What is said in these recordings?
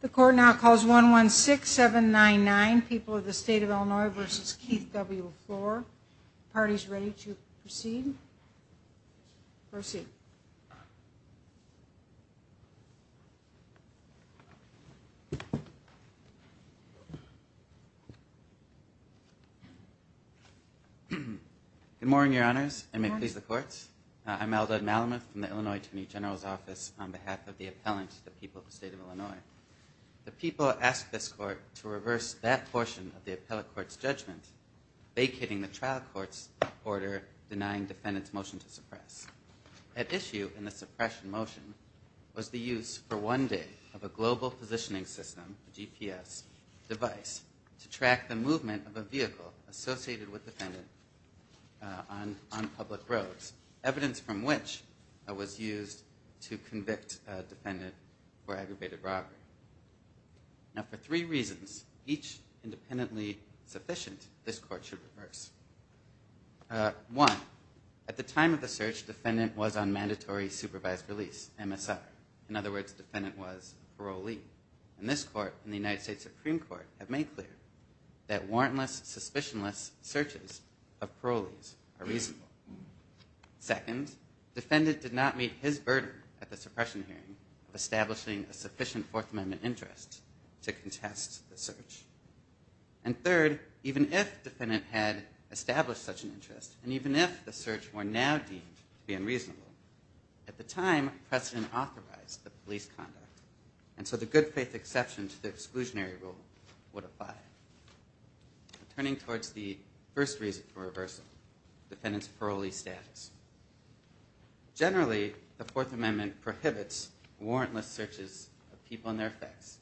The court now calls 116799, People of the State of Illinois v. Keith W. LeFlore. The party is ready to proceed. Proceed. Good morning, Your Honors, and may it please the courts. I'm Eldad Malamuth from the Illinois Attorney General's Office on behalf of the appellant, the People of the State of Illinois. The people ask this court to reverse that portion of the appellate court's judgment, vacating the trial court's order denying defendant's motion to suppress. At issue in the suppression motion was the use, for one day, of a global positioning system, a GPS device, to track the movement of a vehicle associated with defendant on public roads, evidence from which was used to convict a defendant for aggravated robbery. Now, for three reasons, each independently sufficient, this court should reverse. One, at the time of the search, defendant was on mandatory supervised release, MSR. In other words, defendant was a parolee. And this court and the United States Supreme Court have made clear that warrantless, suspicionless searches of parolees are reasonable. Second, defendant did not meet his burden at the suppression hearing of establishing a sufficient Fourth Amendment interest to contest the search. And third, even if defendant had established such an interest, and even if the search were now deemed to be unreasonable, at the time precedent authorized the police conduct. And so the good faith exception to the exclusionary rule would apply. Turning towards the first reason for reversal, defendant's parolee status. Generally, the Fourth Amendment prohibits warrantless searches of people and their effects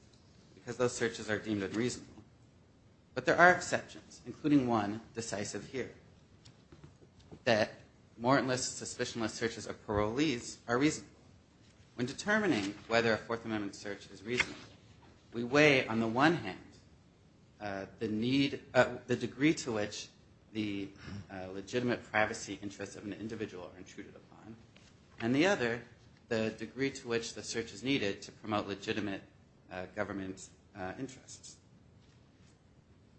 because those searches are deemed unreasonable. But there are exceptions, including one decisive here, that warrantless, suspicionless searches of parolees are reasonable. When determining whether a Fourth Amendment search is reasonable, we weigh, on the one hand, the degree to which the legitimate privacy interests of an individual are intruded upon, and the other, the degree to which the search is needed to promote legitimate government interests.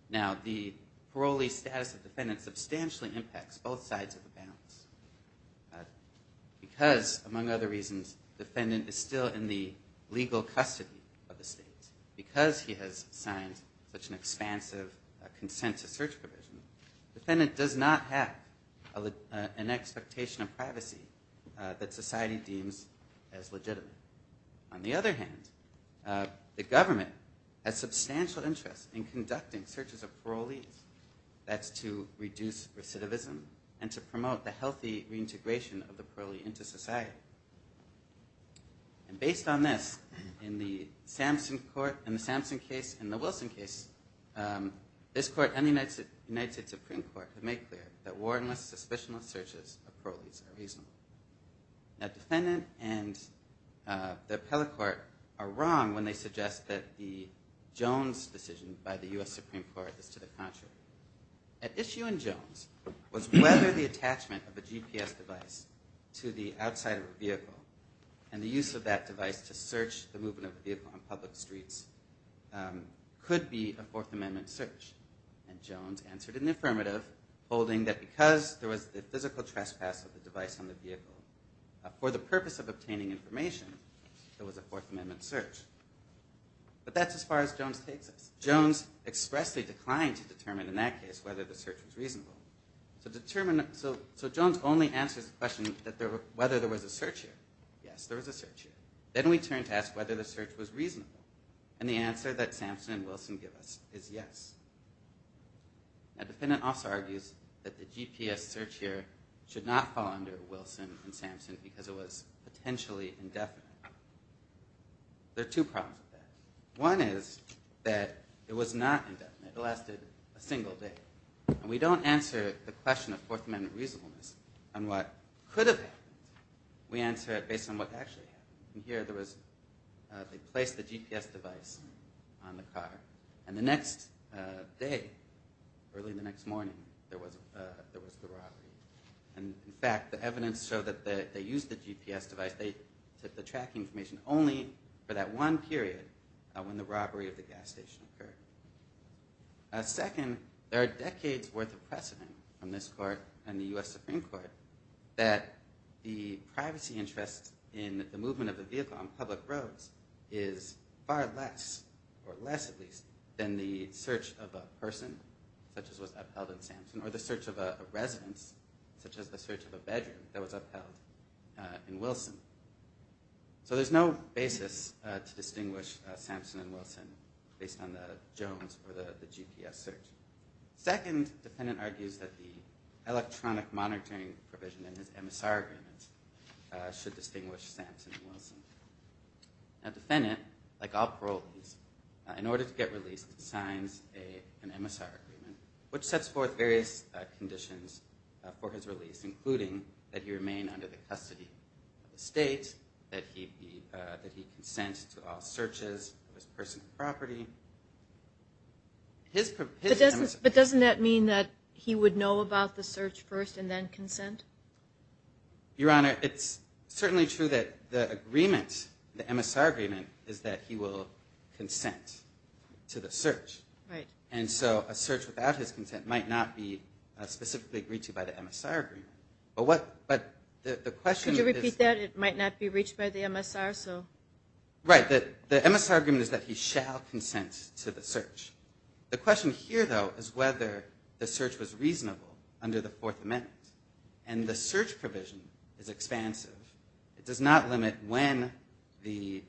Now, the parolee status of defendant substantially impacts both sides of the balance because, among other reasons, defendant is still in the legal custody of the state. Because he has signed such an expansive consent to search provision, defendant does not have an expectation of privacy that society deems as legitimate. On the other hand, the government has substantial interest in conducting searches of parolees. That's to reduce recidivism and to promote the healthy reintegration of the parolee into society. And based on this, in the Samson case and the Wilson case, this Court and the United States Supreme Court have made clear that warrantless, suspicionless searches of parolees are reasonable. Now, defendant and the appellate court are wrong when they suggest that the Jones decision by the U.S. Supreme Court is to the contrary. At issue in Jones was whether the attachment of a GPS device to the outside of a vehicle and the use of that device to search the movement of a vehicle on public streets could be a Fourth Amendment search. And Jones answered in the affirmative, holding that because there was the physical trespass of the device on the vehicle, for the purpose of obtaining information, there was a Fourth Amendment search. But that's as far as Jones takes us. Jones expressly declined to determine in that case whether the search was reasonable. So Jones only answers the question whether there was a search here. Yes, there was a search here. Then we turn to ask whether the search was reasonable. And the answer that Samson and Wilson give us is yes. Now, the defendant also argues that the GPS search here should not fall under Wilson and Samson because it was potentially indefinite. There are two problems with that. One is that it was not indefinite. It lasted a single day. And we don't answer the question of Fourth Amendment reasonableness on what could have happened. We answer it based on what actually happened. And here, they placed the GPS device on the car. And the next day, early the next morning, there was the robbery. And, in fact, the evidence showed that they used the GPS device. They took the tracking information only for that one period when the robbery of the gas station occurred. Second, there are decades' worth of precedent from this court and the U.S. Supreme Court that the privacy interests in the movement of the vehicle on public roads is far less, or less at least, than the search of a person, such as was upheld in Samson, or the search of a residence, such as the search of a bedroom, that was upheld in Wilson. So there's no basis to distinguish Samson and Wilson based on the Jones or the GPS search. Second, the defendant argues that the electronic monitoring provision in his MSR agreement should distinguish Samson and Wilson. Now, the defendant, like all parolees, in order to get released, signs an MSR agreement, which sets forth various conditions for his release, including that he remain under the custody of the state, that he consent to all searches of his personal property. But doesn't that mean that he would know about the search first and then consent? Your Honor, it's certainly true that the agreement, the MSR agreement, is that he will consent to the search. And so a search without his consent might not be specifically agreed to by the MSR agreement. Could you repeat that? It might not be reached by the MSR? Right. The MSR agreement is that he shall consent to the search. The question here, though, is whether the search was reasonable under the Fourth Amendment. And the search provision is expansive. It does not limit when the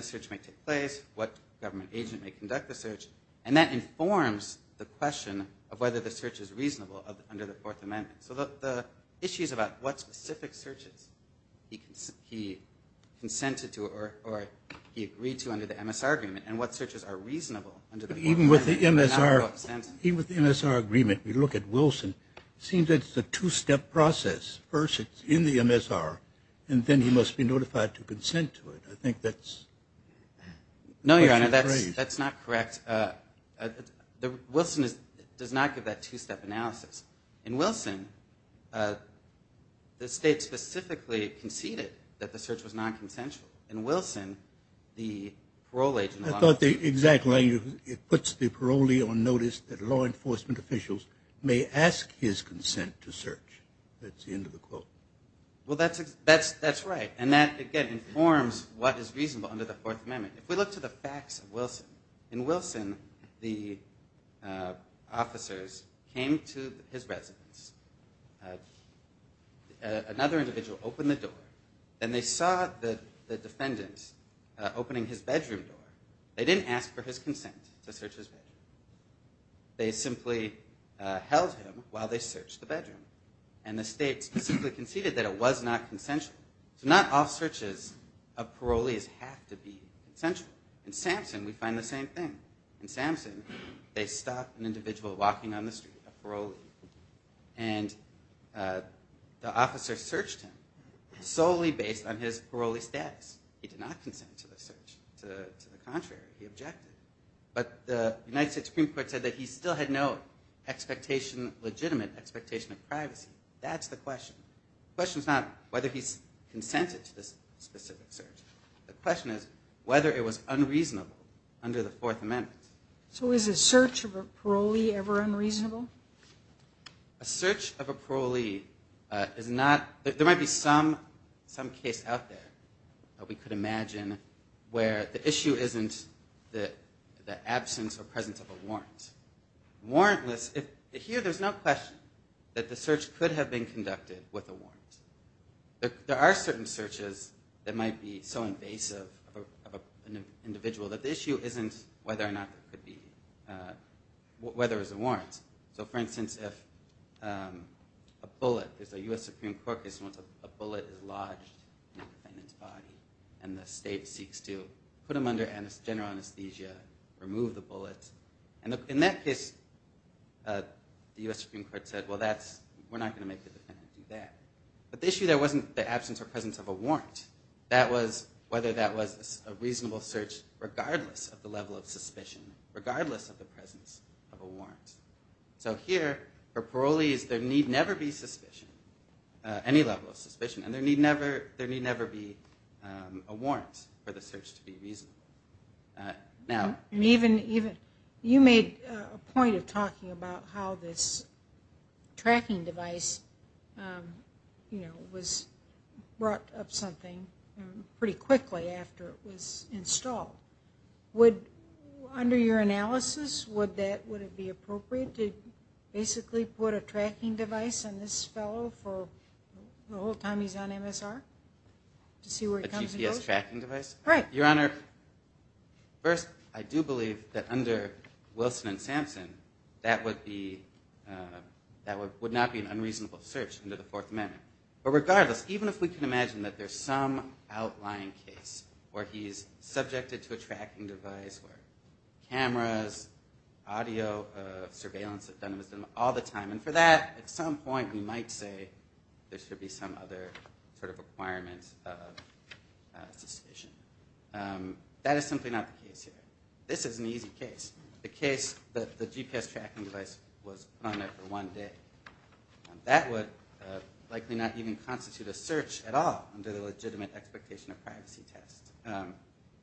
search might take place, what government agent may conduct the search. And that informs the question of whether the search is reasonable under the Fourth Amendment. So the issue is about what specific searches he consented to or he agreed to under the MSR agreement and what searches are reasonable under the Fourth Amendment. Even with the MSR agreement, we look at Wilson. It seems that it's a two-step process. First, it's in the MSR, and then he must be notified to consent to it. I think that's a question of grace. No, Your Honor, that's not correct. Wilson does not give that two-step analysis. In Wilson, the State specifically conceded that the search was nonconsensual. In Wilson, the parole agent was not. I thought the exact line, it puts the parolee on notice that law enforcement officials may ask his consent to search. That's the end of the quote. Well, that's right. And that, again, informs what is reasonable under the Fourth Amendment. If we look to the facts of Wilson, in Wilson, the officers came to his residence. Another individual opened the door, and they saw the defendant opening his bedroom door. They didn't ask for his consent to search his bedroom. They simply held him while they searched the bedroom. And the State specifically conceded that it was not consensual. So not all searches of parolees have to be consensual. In Samson, we find the same thing. In Samson, they stopped an individual walking on the street, a parolee, and the officer searched him solely based on his parolee status. He did not consent to the search. To the contrary, he objected. But the United States Supreme Court said that he still had no expectation, legitimate expectation of privacy. That's the question. The question is not whether he's consented to this specific search. The question is whether it was unreasonable under the Fourth Amendment. So is a search of a parolee ever unreasonable? A search of a parolee is not – there might be some case out there that we could imagine where the issue isn't the absence or presence of a warrant. Here, there's no question that the search could have been conducted with a warrant. There are certain searches that might be so invasive of an individual that the issue isn't whether or not it could be – whether it was a warrant. So, for instance, if a bullet – there's a U.S. Supreme Court case where a bullet is lodged in a defendant's body and the state seeks to put him under general anesthesia, remove the bullet, and in that case, the U.S. Supreme Court said, well, that's – we're not going to make the defendant do that. But the issue there wasn't the absence or presence of a warrant. That was whether that was a reasonable search regardless of the level of suspicion, regardless of the presence of a warrant. So here, for parolees, there need never be suspicion, any level of suspicion, and there need never be a warrant for the search to be reasonable. Now – Even – you made a point of talking about how this tracking device, you know, was brought up something pretty quickly after it was installed. Would – under your analysis, would that – would it be appropriate to basically put a tracking device on this fellow for the whole time he's on MSR to see where he comes and goes? A GPS tracking device? Right. Your Honor, first, I do believe that under Wilson and Sampson, that would be – that would not be an unreasonable search under the Fourth Amendment. But regardless, even if we can imagine that there's some outlying case where he's subjected to a tracking device, where cameras, audio surveillance that's done with them all the time, and for that, at some point, we might say there should be some other sort of requirements of suspicion. That is simply not the case here. This is an easy case, the case that the GPS tracking device was on there for one day. That would likely not even constitute a search at all under the legitimate expectation of privacy test.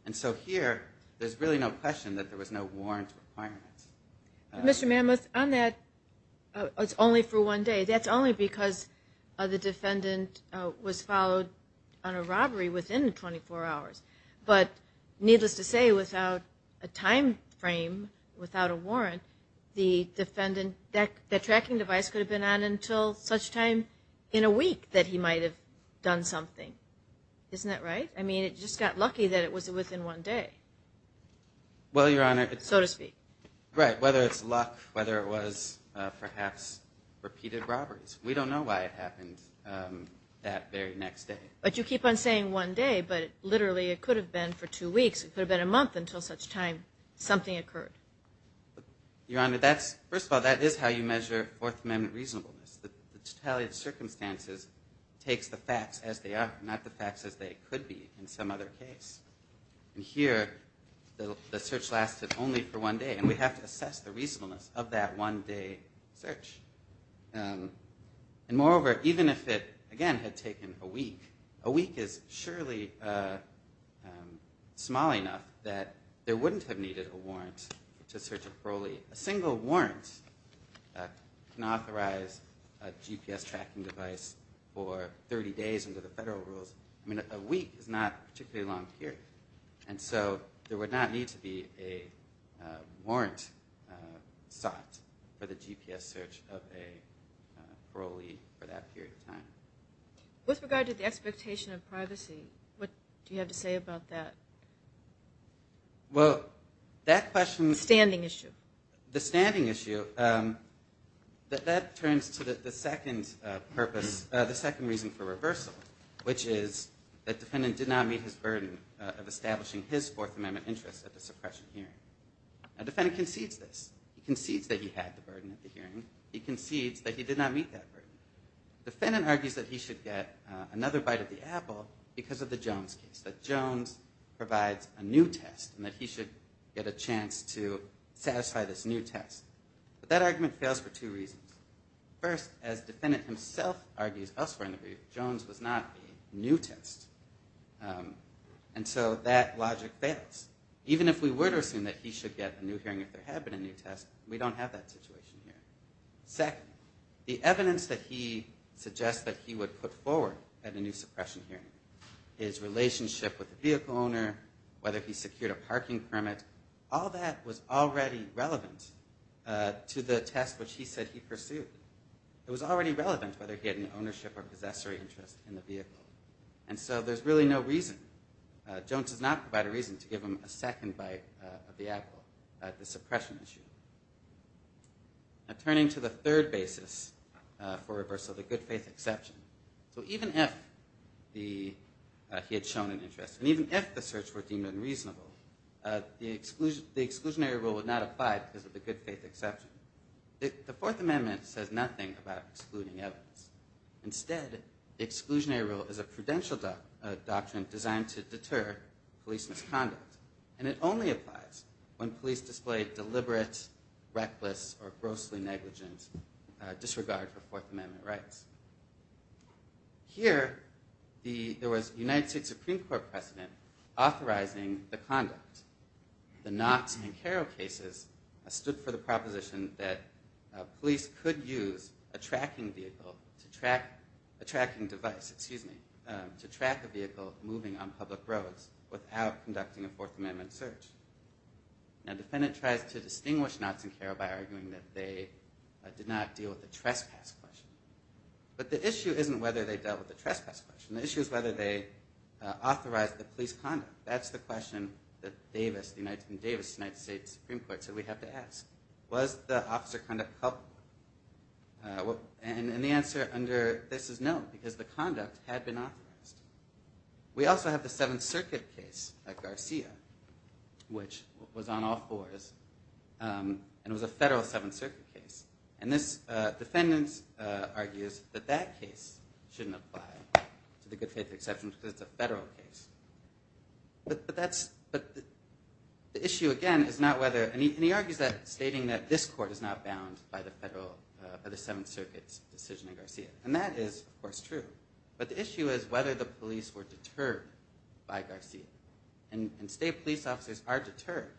And so here, there's really no question that there was no warrant requirement. Mr. Mammoth, on that, it's only for one day. That's only because the defendant was followed on a robbery within 24 hours. But needless to say, without a time frame, without a warrant, the defendant – that tracking device could have been on until such time in a week that he might have done something. Isn't that right? I mean, it just got lucky that it was within one day. Well, Your Honor. So to speak. Right, whether it's luck, whether it was perhaps repeated robberies. We don't know why it happened that very next day. But you keep on saying one day, but literally it could have been for two weeks. It could have been a month until such time something occurred. Your Honor, first of all, that is how you measure Fourth Amendment reasonableness. The retaliate circumstances takes the facts as they are, not the facts as they could be in some other case. And here the search lasted only for one day, and we have to assess the reasonableness of that one-day search. And moreover, even if it, again, had taken a week, a week is surely small enough that there wouldn't have needed a warrant to search a parolee. A single warrant can authorize a GPS tracking device for 30 days under the federal rules. I mean, a week is not a particularly long period. And so there would not need to be a warrant sought for the GPS search of a parolee for that period of time. With regard to the expectation of privacy, what do you have to say about that? Well, that question – The standing issue. The standing issue, that turns to the second purpose, the second reason for reversal, which is that the defendant did not meet his burden of establishing his Fourth Amendment interest at the suppression hearing. Now, the defendant concedes this. He concedes that he had the burden at the hearing. He concedes that he did not meet that burden. The defendant argues that he should get another bite of the apple because of the Jones case, that Jones provides a new test and that he should get a chance to satisfy this new test. But that argument fails for two reasons. First, as the defendant himself argues elsewhere in the brief, Jones was not a new test. And so that logic fails. Even if we were to assume that he should get a new hearing if there had been a new test, we don't have that situation here. Second, the evidence that he suggests that he would put forward at a new suppression hearing, his relationship with the vehicle owner, whether he secured a parking permit, all that was already relevant to the test which he said he pursued. It was already relevant whether he had any ownership or possessory interest in the vehicle. And so there's really no reason. Jones does not provide a reason to give him a second bite of the apple at the suppression issue. Now, turning to the third basis for reversal, the good faith exception. So even if he had shown an interest and even if the search were deemed unreasonable, the exclusionary rule would not apply because of the good faith exception. The Fourth Amendment says nothing about excluding evidence. Instead, the exclusionary rule is a prudential doctrine designed to deter police misconduct. And it only applies when police display deliberate, reckless, or grossly negligent disregard for Fourth Amendment rights. Here, there was a United States Supreme Court precedent authorizing the conduct. The Knotts and Caro cases stood for the proposition that police could use a tracking device to track a vehicle moving on public roads without conducting a Fourth Amendment search. Now, the defendant tries to distinguish Knotts and Caro by arguing that they did not deal with the trespass question. But the issue isn't whether they dealt with the trespass question. The issue is whether they authorized the police conduct. That's the question that Davis, the United States Supreme Court, said we have to ask. Was the officer conduct helpful? And the answer under this is no, because the conduct had been authorized. We also have the Seventh Circuit case at Garcia, which was on all fours. And it was a federal Seventh Circuit case. And this defendant argues that that case shouldn't apply to the good faith exception because it's a federal case. But the issue, again, is not whether... And he argues that, stating that this court is not bound by the Seventh Circuit's decision in Garcia. And that is, of course, true. But the issue is whether the police were deterred by Garcia. And state police officers are deterred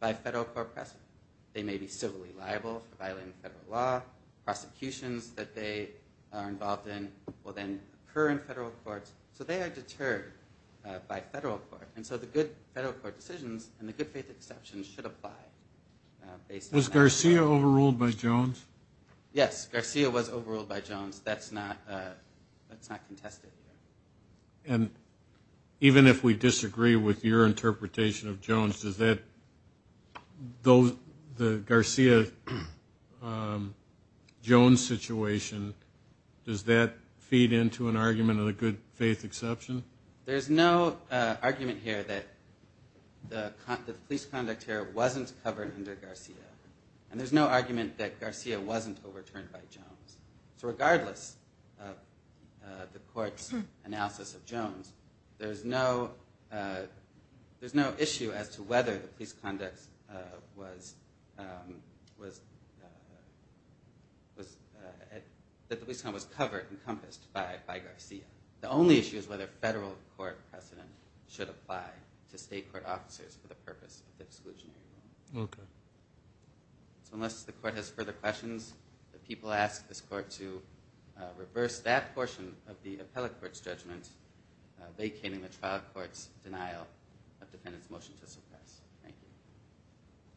by federal court precedent. They may be civilly liable for violating federal law. Prosecutions that they are involved in will then occur in federal courts. So they are deterred by federal court. And so the good federal court decisions and the good faith exceptions should apply based on that. Was Garcia overruled by Jones? Yes, Garcia was overruled by Jones. That's not contested here. And even if we disagree with your interpretation of Jones, does that... The Garcia-Jones situation, does that feed into an argument of the good faith exception? There's no argument here that the police conduct here wasn't covered under Garcia. And there's no argument that Garcia wasn't overturned by Jones. So regardless of the court's analysis of Jones, there's no issue as to whether the police conduct was covered, encompassed by Garcia. The only issue is whether federal court precedent should apply to state court officers for the purpose of exclusionary rule. Okay. So unless the court has further questions, the people ask this court to reverse that portion of the appellate court's judgment, vacating the trial court's denial of defendant's motion to suppress. Thank you.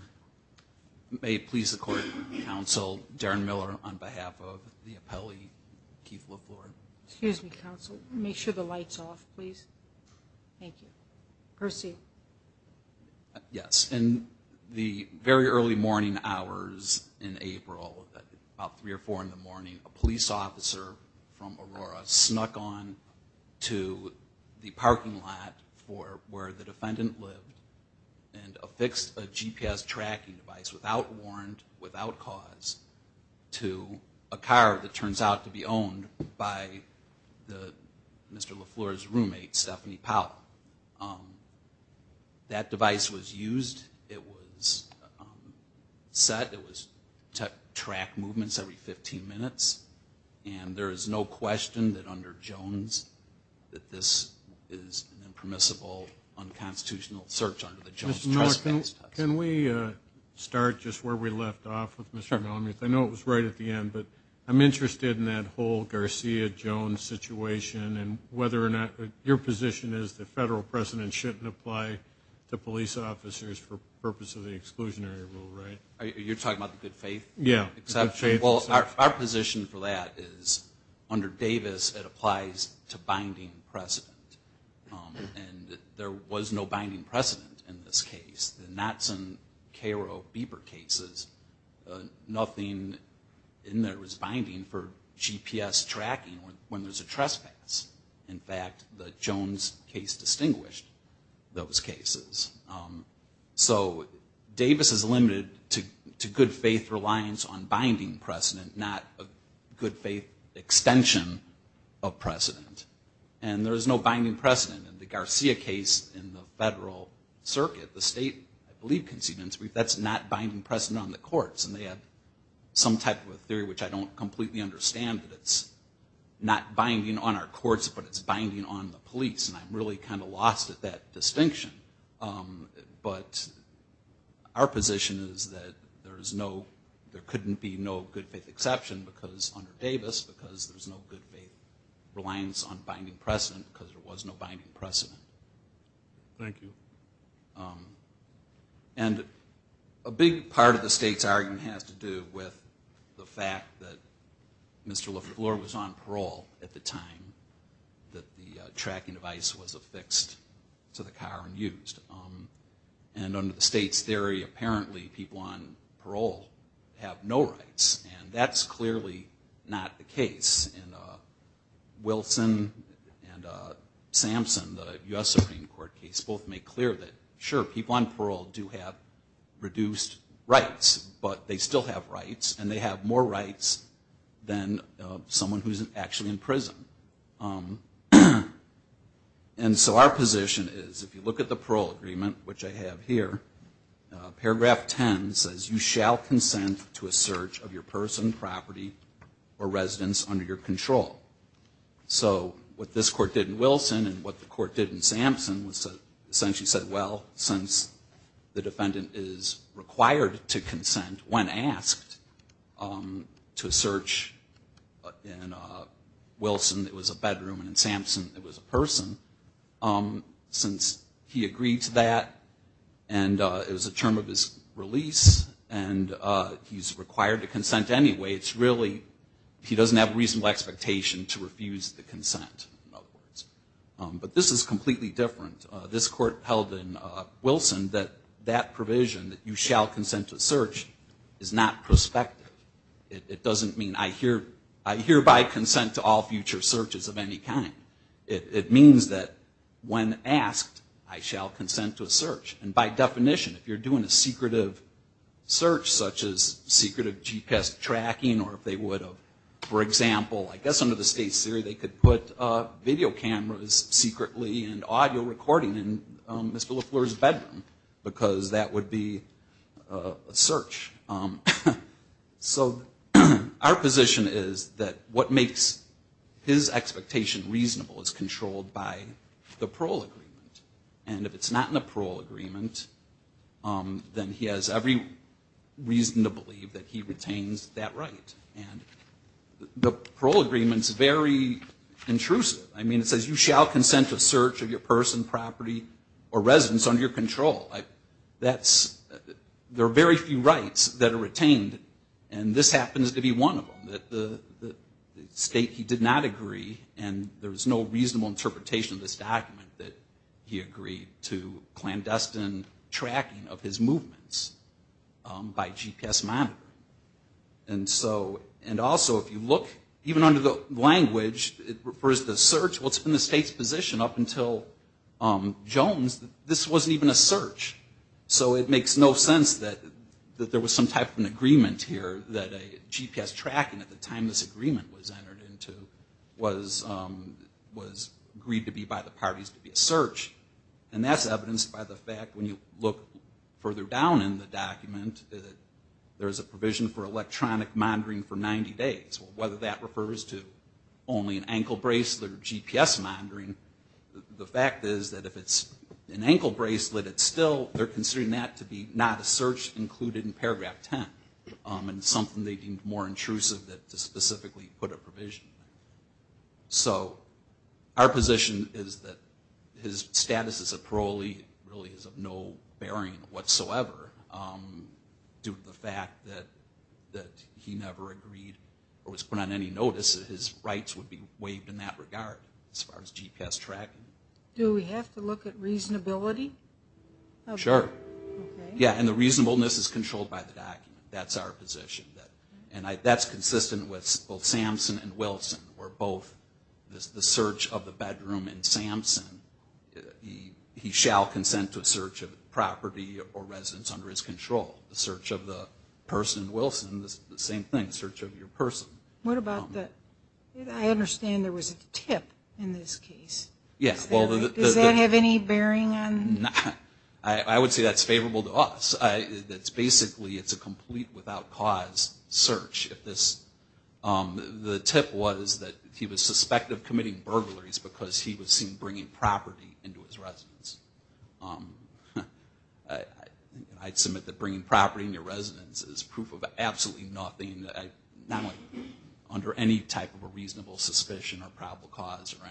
Thank you. May it please the court, counsel, Darren Miller on behalf of the appellee, Keith LaFleur. Excuse me, counsel. Make sure the light's off, please. Thank you. Percy. Yes, in the very early morning hours in April, about 3 or 4 in the morning, a police officer from Aurora snuck on to the parking lot for where the defendant lived and affixed a GPS tracking device without warrant, without cause, to a car that turns out to be owned by Mr. LaFleur's roommate, Stephanie Powell. That device was used. It was set. It was to track movements every 15 minutes, and there is no question that under Jones that this is an impermissible, unconstitutional search under the Jones Trust Act. Mr. Miller, can we start just where we left off with Mr. Mellon? I know it was right at the end, but I'm interested in that whole Garcia-Jones situation and whether or not your position is the federal precedent shouldn't apply to police officers for the purpose of the exclusionary rule, right? You're talking about the good faith? Yeah. Well, our position for that is under Davis it applies to binding precedent, and there was no binding precedent in this case. The Knatson-Caro-Bieber cases, nothing in there was binding for GPS tracking when there's a trespass. In fact, the Jones case distinguished those cases. So Davis is limited to good faith reliance on binding precedent, not a good faith extension of precedent, and there is no binding precedent in the Garcia case in the federal circuit. The state, I believe, conceded in its brief that's not binding precedent on the courts, and they had some type of a theory, which I don't completely understand, that it's not binding on our courts, but it's binding on the police, and I'm really kind of lost at that distinction. But our position is that there couldn't be no good faith exception under Davis because there's no good faith reliance on binding precedent because there was no binding precedent. Thank you. And a big part of the state's argument has to do with the fact that Mr. Lefleur was on parole at the time, that the tracking device was affixed to the car and used. And under the state's theory, apparently people on parole have no rights, and that's clearly not the case. Wilson and Sampson, the U.S. Supreme Court case, both make clear that, sure, people on parole do have reduced rights, but they still have rights, and they have more rights than someone who's actually in prison. And so our position is, if you look at the parole agreement, which I have here, paragraph 10 says you shall consent to a search of your person, property, or residence under your control. So what this court did in Wilson and what the court did in Sampson was essentially said, well, since the defendant is required to consent when asked to a search in Wilson, it was a bedroom, and in Sampson it was a person, since he agreed to that, and it was the term of his release, and he's required to consent anyway, it's really he doesn't have a reasonable expectation to refuse the consent, in other words. But this is completely different. This court held in Wilson that that provision, that you shall consent to a search, is not prospective. It doesn't mean I hereby consent to all future searches of any kind. It means that when asked, I shall consent to a search. And by definition, if you're doing a secretive search, such as secretive GPS tracking, or if they would have, for example, I guess under the state's theory, they could put video cameras secretly and audio recording in Mr. Lafleur's bedroom, because that would be a search. So our position is that what makes his expectation reasonable is controlled by the parole agreement. And if it's not in the parole agreement, then he has every reason to believe that he retains that right. And the parole agreement's very intrusive. I mean, it says you shall consent to search of your person, property, or residence under your control. That's, there are very few rights that are retained, and this happens to be one of them. The state, he did not agree, and there's no reasonable interpretation of this document that he agreed to clandestine tracking of his movements by GPS monitor. And so, and also, if you look, even under the language, it refers to search. Well, it's been the state's position up until Jones that this wasn't even a search. So it makes no sense that there was some type of an agreement here that a GPS tracking at the time this agreement was entered into was agreed to be by the parties to be a search. And that's evidenced by the fact, when you look further down in the document, there's a provision for electronic monitoring for 90 days. Whether that refers to only an ankle bracelet or GPS monitoring, the fact is that if it's an ankle bracelet, it's still, they're considering that to be not a search included in paragraph 10. And something they deemed more intrusive that specifically put a provision. So our position is that his status as a parolee really is of no bearing whatsoever. Due to the fact that he never agreed or was put on any notice, his rights would be waived in that regard as far as GPS tracking. Do we have to look at reasonability? Sure. Yeah, and the reasonableness is controlled by the document. That's our position. And that's consistent with both Samson and Wilson, where both the search of the bedroom in Samson, he shall consent to a search of property or residence under his control. The search of the person in Wilson, the same thing, the search of your person. What about the, I understand there was a tip in this case. Does that have any bearing on? I would say that's favorable to us. Basically it's a complete without cause search. The tip was that he was suspected of committing burglaries because he was seen bringing property into his residence. I'd submit that bringing property into your residence is proof of absolutely nothing, not under any type of a reasonable suspicion or probable cause or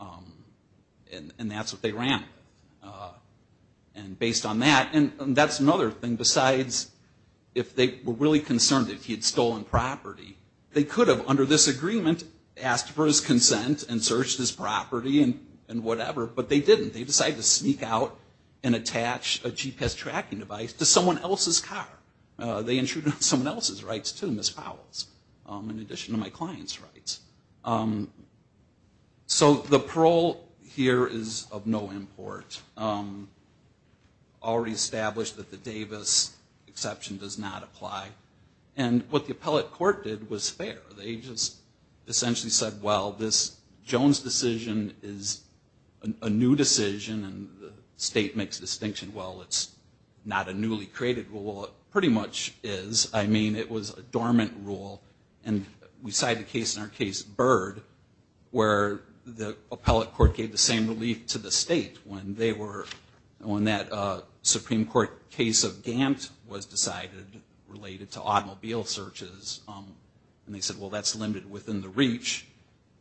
anything. And that's what they ran with. And based on that, and that's another thing besides if they were really concerned that he had stolen property, they could have under this agreement asked for his consent and searched his property and whatever, but they didn't. They decided to sneak out and attach a GPS tracking device to someone else's car. They intruded on someone else's rights too, Ms. Powell's, in addition to my client's rights. So the parole here is of no import. Already established that the Davis exception does not apply. And what the appellate court did was fair. They just essentially said, well, this Jones decision is a new decision and the state makes a distinction. Well, it's not a newly created rule. It pretty much is. I mean, it was a dormant rule. And we cite a case in our case, Bird, where the appellate court gave the same relief to the state when they were, when that Supreme Court case of Gant was decided related to automobile searches. And they said, well, that's limited within the reach.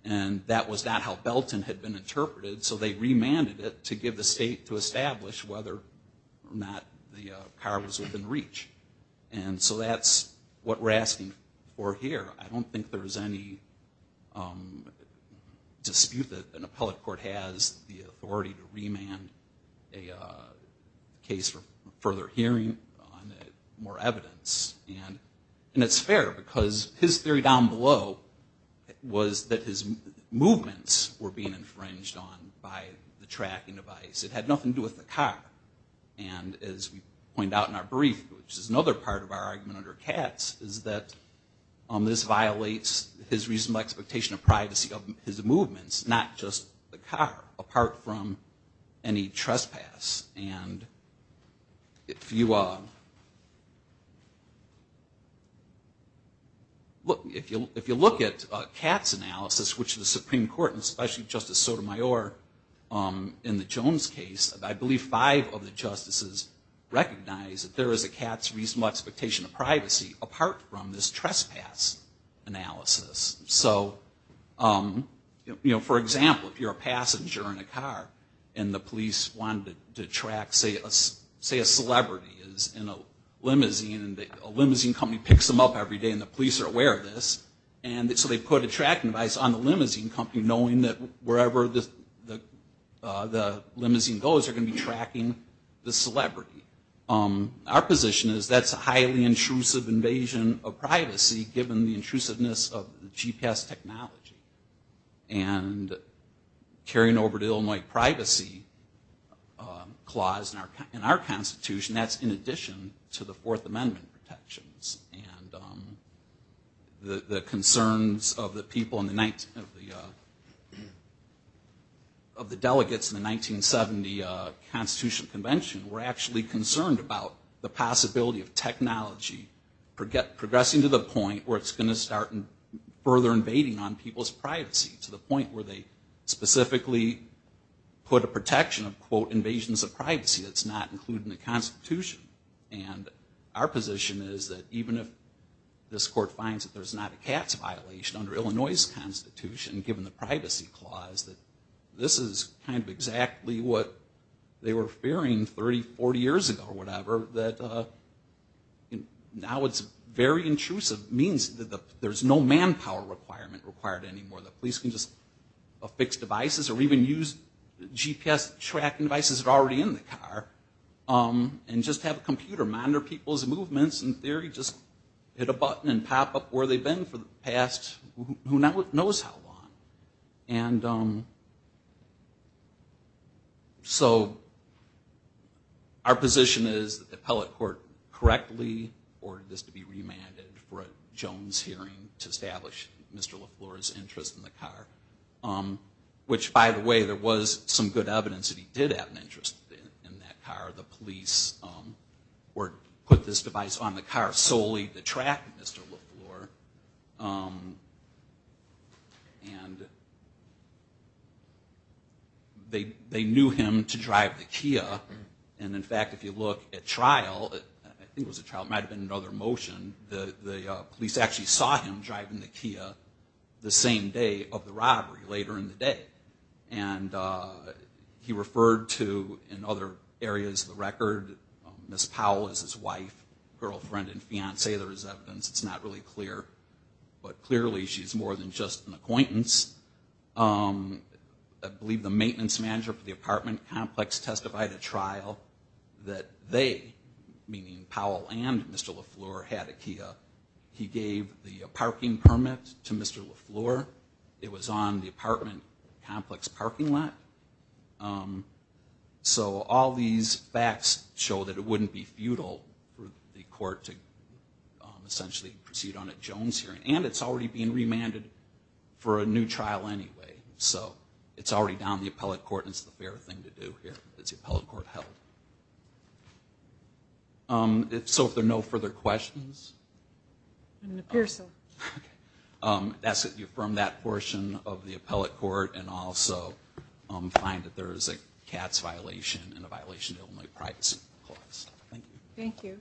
And that was not how Belton had been interpreted. So they remanded it to give the state to establish whether or not the car was within reach. And so that's what we're asking for here. I don't think there's any dispute that an appellate court has the authority to remand a case for further hearing on more evidence. And it's fair because his theory down below was that his movements were being infringed on by the tracking device. It had nothing to do with the car. And as we point out in our brief, which is another part of our argument under Katz, is that this violates his reasonable expectation of privacy of his movements, not just the car, apart from any trespass. And if you look at Katz's analysis, which the Supreme Court and especially Justice Sotomayor in the Jones case, I believe five of the justices recognize that there is a Katz's reasonable expectation of privacy apart from this trespass analysis. So, you know, for example, if you're a passenger in a car and the police wanted to track, say, a celebrity in a limousine and a limousine company picks them up every day and the police are aware of this, so they put a tracking device on the limousine company knowing that wherever the limousine goes, they're going to be tracking the celebrity. Our position is that's a highly intrusive invasion of privacy given the intrusiveness of the GPS technology. And carrying over the Illinois Privacy Clause in our Constitution, that's in addition to the Fourth Amendment protections. And the concerns of the delegates in the 1970 Constitutional Convention were actually concerned about the possibility of technology progressing to the point where it's going to start further invading on people's privacy to the point where they specifically put a protection of, quote, invasions of privacy that's not included in the Constitution. And our position is that even if this court finds that there's not a tax violation under Illinois' Constitution given the Privacy Clause, that this is kind of exactly what they were fearing 30, 40 years ago or whatever, that now it's very intrusive, means that there's no manpower requirement required anymore. The police can just affix devices or even use GPS tracking devices that are already in the car and just have a computer monitor people's movements in theory, just hit a button and pop up where they've been for the past, who knows how long. And so our position is that the appellate court correctly ordered this to be remanded for a Jones hearing to establish Mr. LaFleur's interest in the car, which, by the way, there was some good evidence that he did have an interest in the car. The police put this device on the car solely to track Mr. LaFleur. And they knew him to drive the Kia. And, in fact, if you look at trial, I think it was a trial, it might have been another motion, the police actually saw him driving the Kia the same day of the robbery, later in the day. And he referred to, in other areas of the record, Ms. Powell as his wife, girlfriend and fiancee, there's evidence, it's not really clear. But clearly she's more than just an acquaintance. I believe the maintenance manager for the apartment complex testified at trial that they, meaning Powell and Mr. LaFleur, had a Kia. He gave the parking permit to Mr. LaFleur. It was on the apartment complex parking lot. So all these facts show that it wouldn't be futile for the court to essentially proceed on a Jones hearing. And it's already being remanded for a new trial anyway. So it's already down to the appellate court and it's the fair thing to do here as the appellate court held. So if there are no further questions? It appears so. I ask that you affirm that portion of the appellate court and also find that there is a CATS violation and a violation of the only privacy clause. Thank you.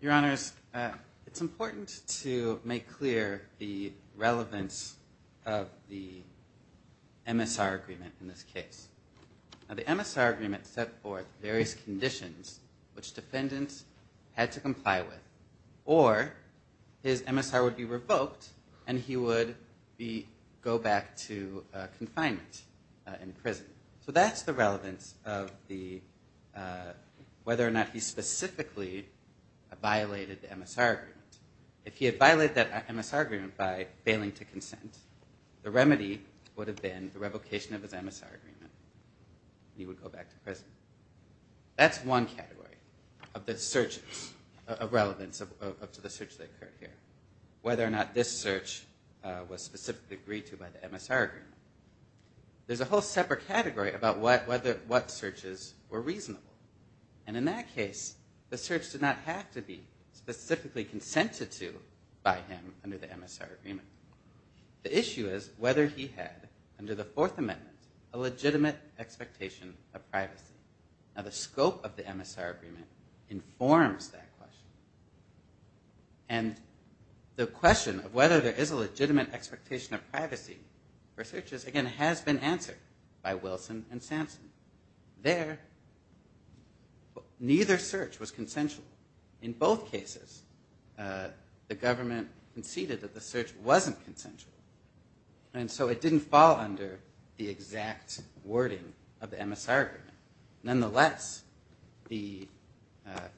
Your Honor, it's important to make clear the relevance of the MSR agreement in this case. The MSR agreement set forth various conditions which defendants had to comply with or his MSR would be revoked and he would go back to confinement in prison. So that's the relevance of whether or not he specifically violated the MSR agreement. If he had violated that MSR agreement by failing to consent, the remedy would have been the revocation of his MSR agreement and he would go back to prison. That's one category of the search of relevance of the search that occurred here. Whether or not this search was specifically agreed to by the MSR agreement. There's a whole separate category about what searches were reasonable. And in that case the search did not have to be specifically consented to by him under the MSR agreement. The issue is whether he had under the Fourth Amendment a legitimate expectation of privacy. Now the scope of the MSR agreement informs that question. And the question of whether there is a legitimate expectation of privacy for searches again has been answered by Wilson and Sampson. There neither search was consensual. In both cases the government conceded that the search wasn't consensual. And so it didn't fall under the exact wording of the MSR agreement. Nonetheless, the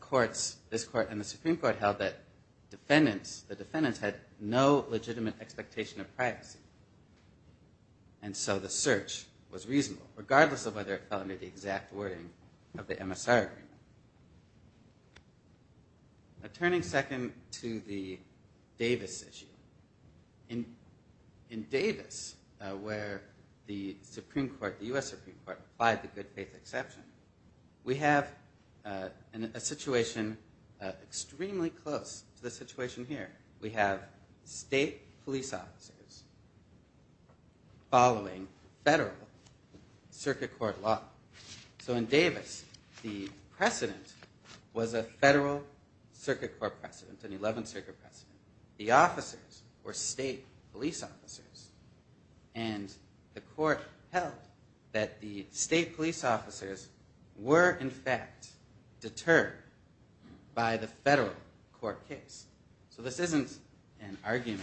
courts, this court and the Supreme Court held that the defendants had no legitimate expectation of privacy. And so the search was reasonable regardless of whether it fell under the exact wording of the MSR agreement. Turning second to the Davis issue. In Davis where the Supreme Court, the U.S. Supreme Court applied the good faith exception, we have a situation extremely close to the situation here. We have state police officers following federal circuit court law. So in Davis the precedent was a federal circuit court precedent, an 11th circuit precedent. The officers were state police officers. And the court held that the state police officers were in fact deterred by the federal court case. So this isn't an argument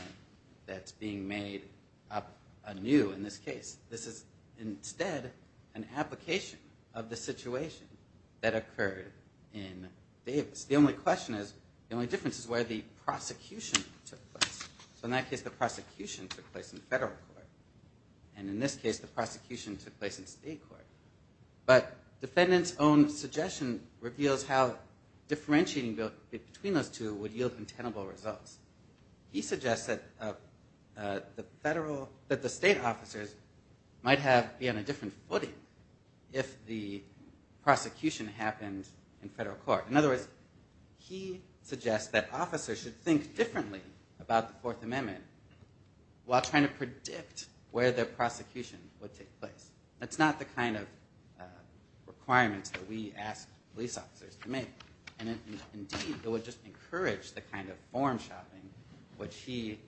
that's being made up anew in this case. This is instead an application of the situation that occurred in Davis. The only question is, the only difference is where the prosecution took place. So in that case the prosecution took place in federal court. And in this case the prosecution took place in state court. But defendant's own suggestion reveals how differentiating between those two would yield untenable results. He suggests that the state officers might be on a different footing if the prosecution happened in federal court. In other words, he suggests that officers should think differently about the Fourth Amendment while trying to predict where the prosecution would take place. That's not the kind of requirements that we ask police officers to make. And indeed it would just encourage the kind of form shopping which he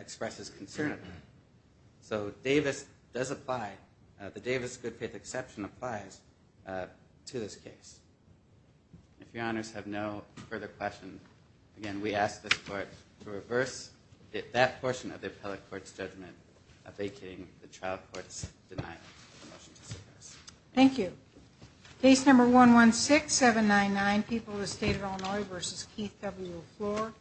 expresses concern about. So Davis does apply, the Davis good faith exception applies to this case. If your honors have no further questions, again we ask this court to reverse that portion of the appellate court's judgment vacating the trial court's denial of the motion to suppress. Thank you. Case number 116799, People of the State of Illinois v. Keith W. Floor.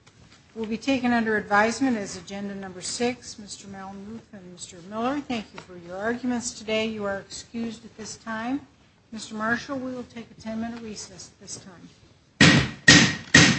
It will be taken under advisement as agenda number six. Mr. Malmuth and Mr. Miller, thank you for your arguments today. You are excused at this time. Mr. Marshall, we will take a ten minute recess at this time.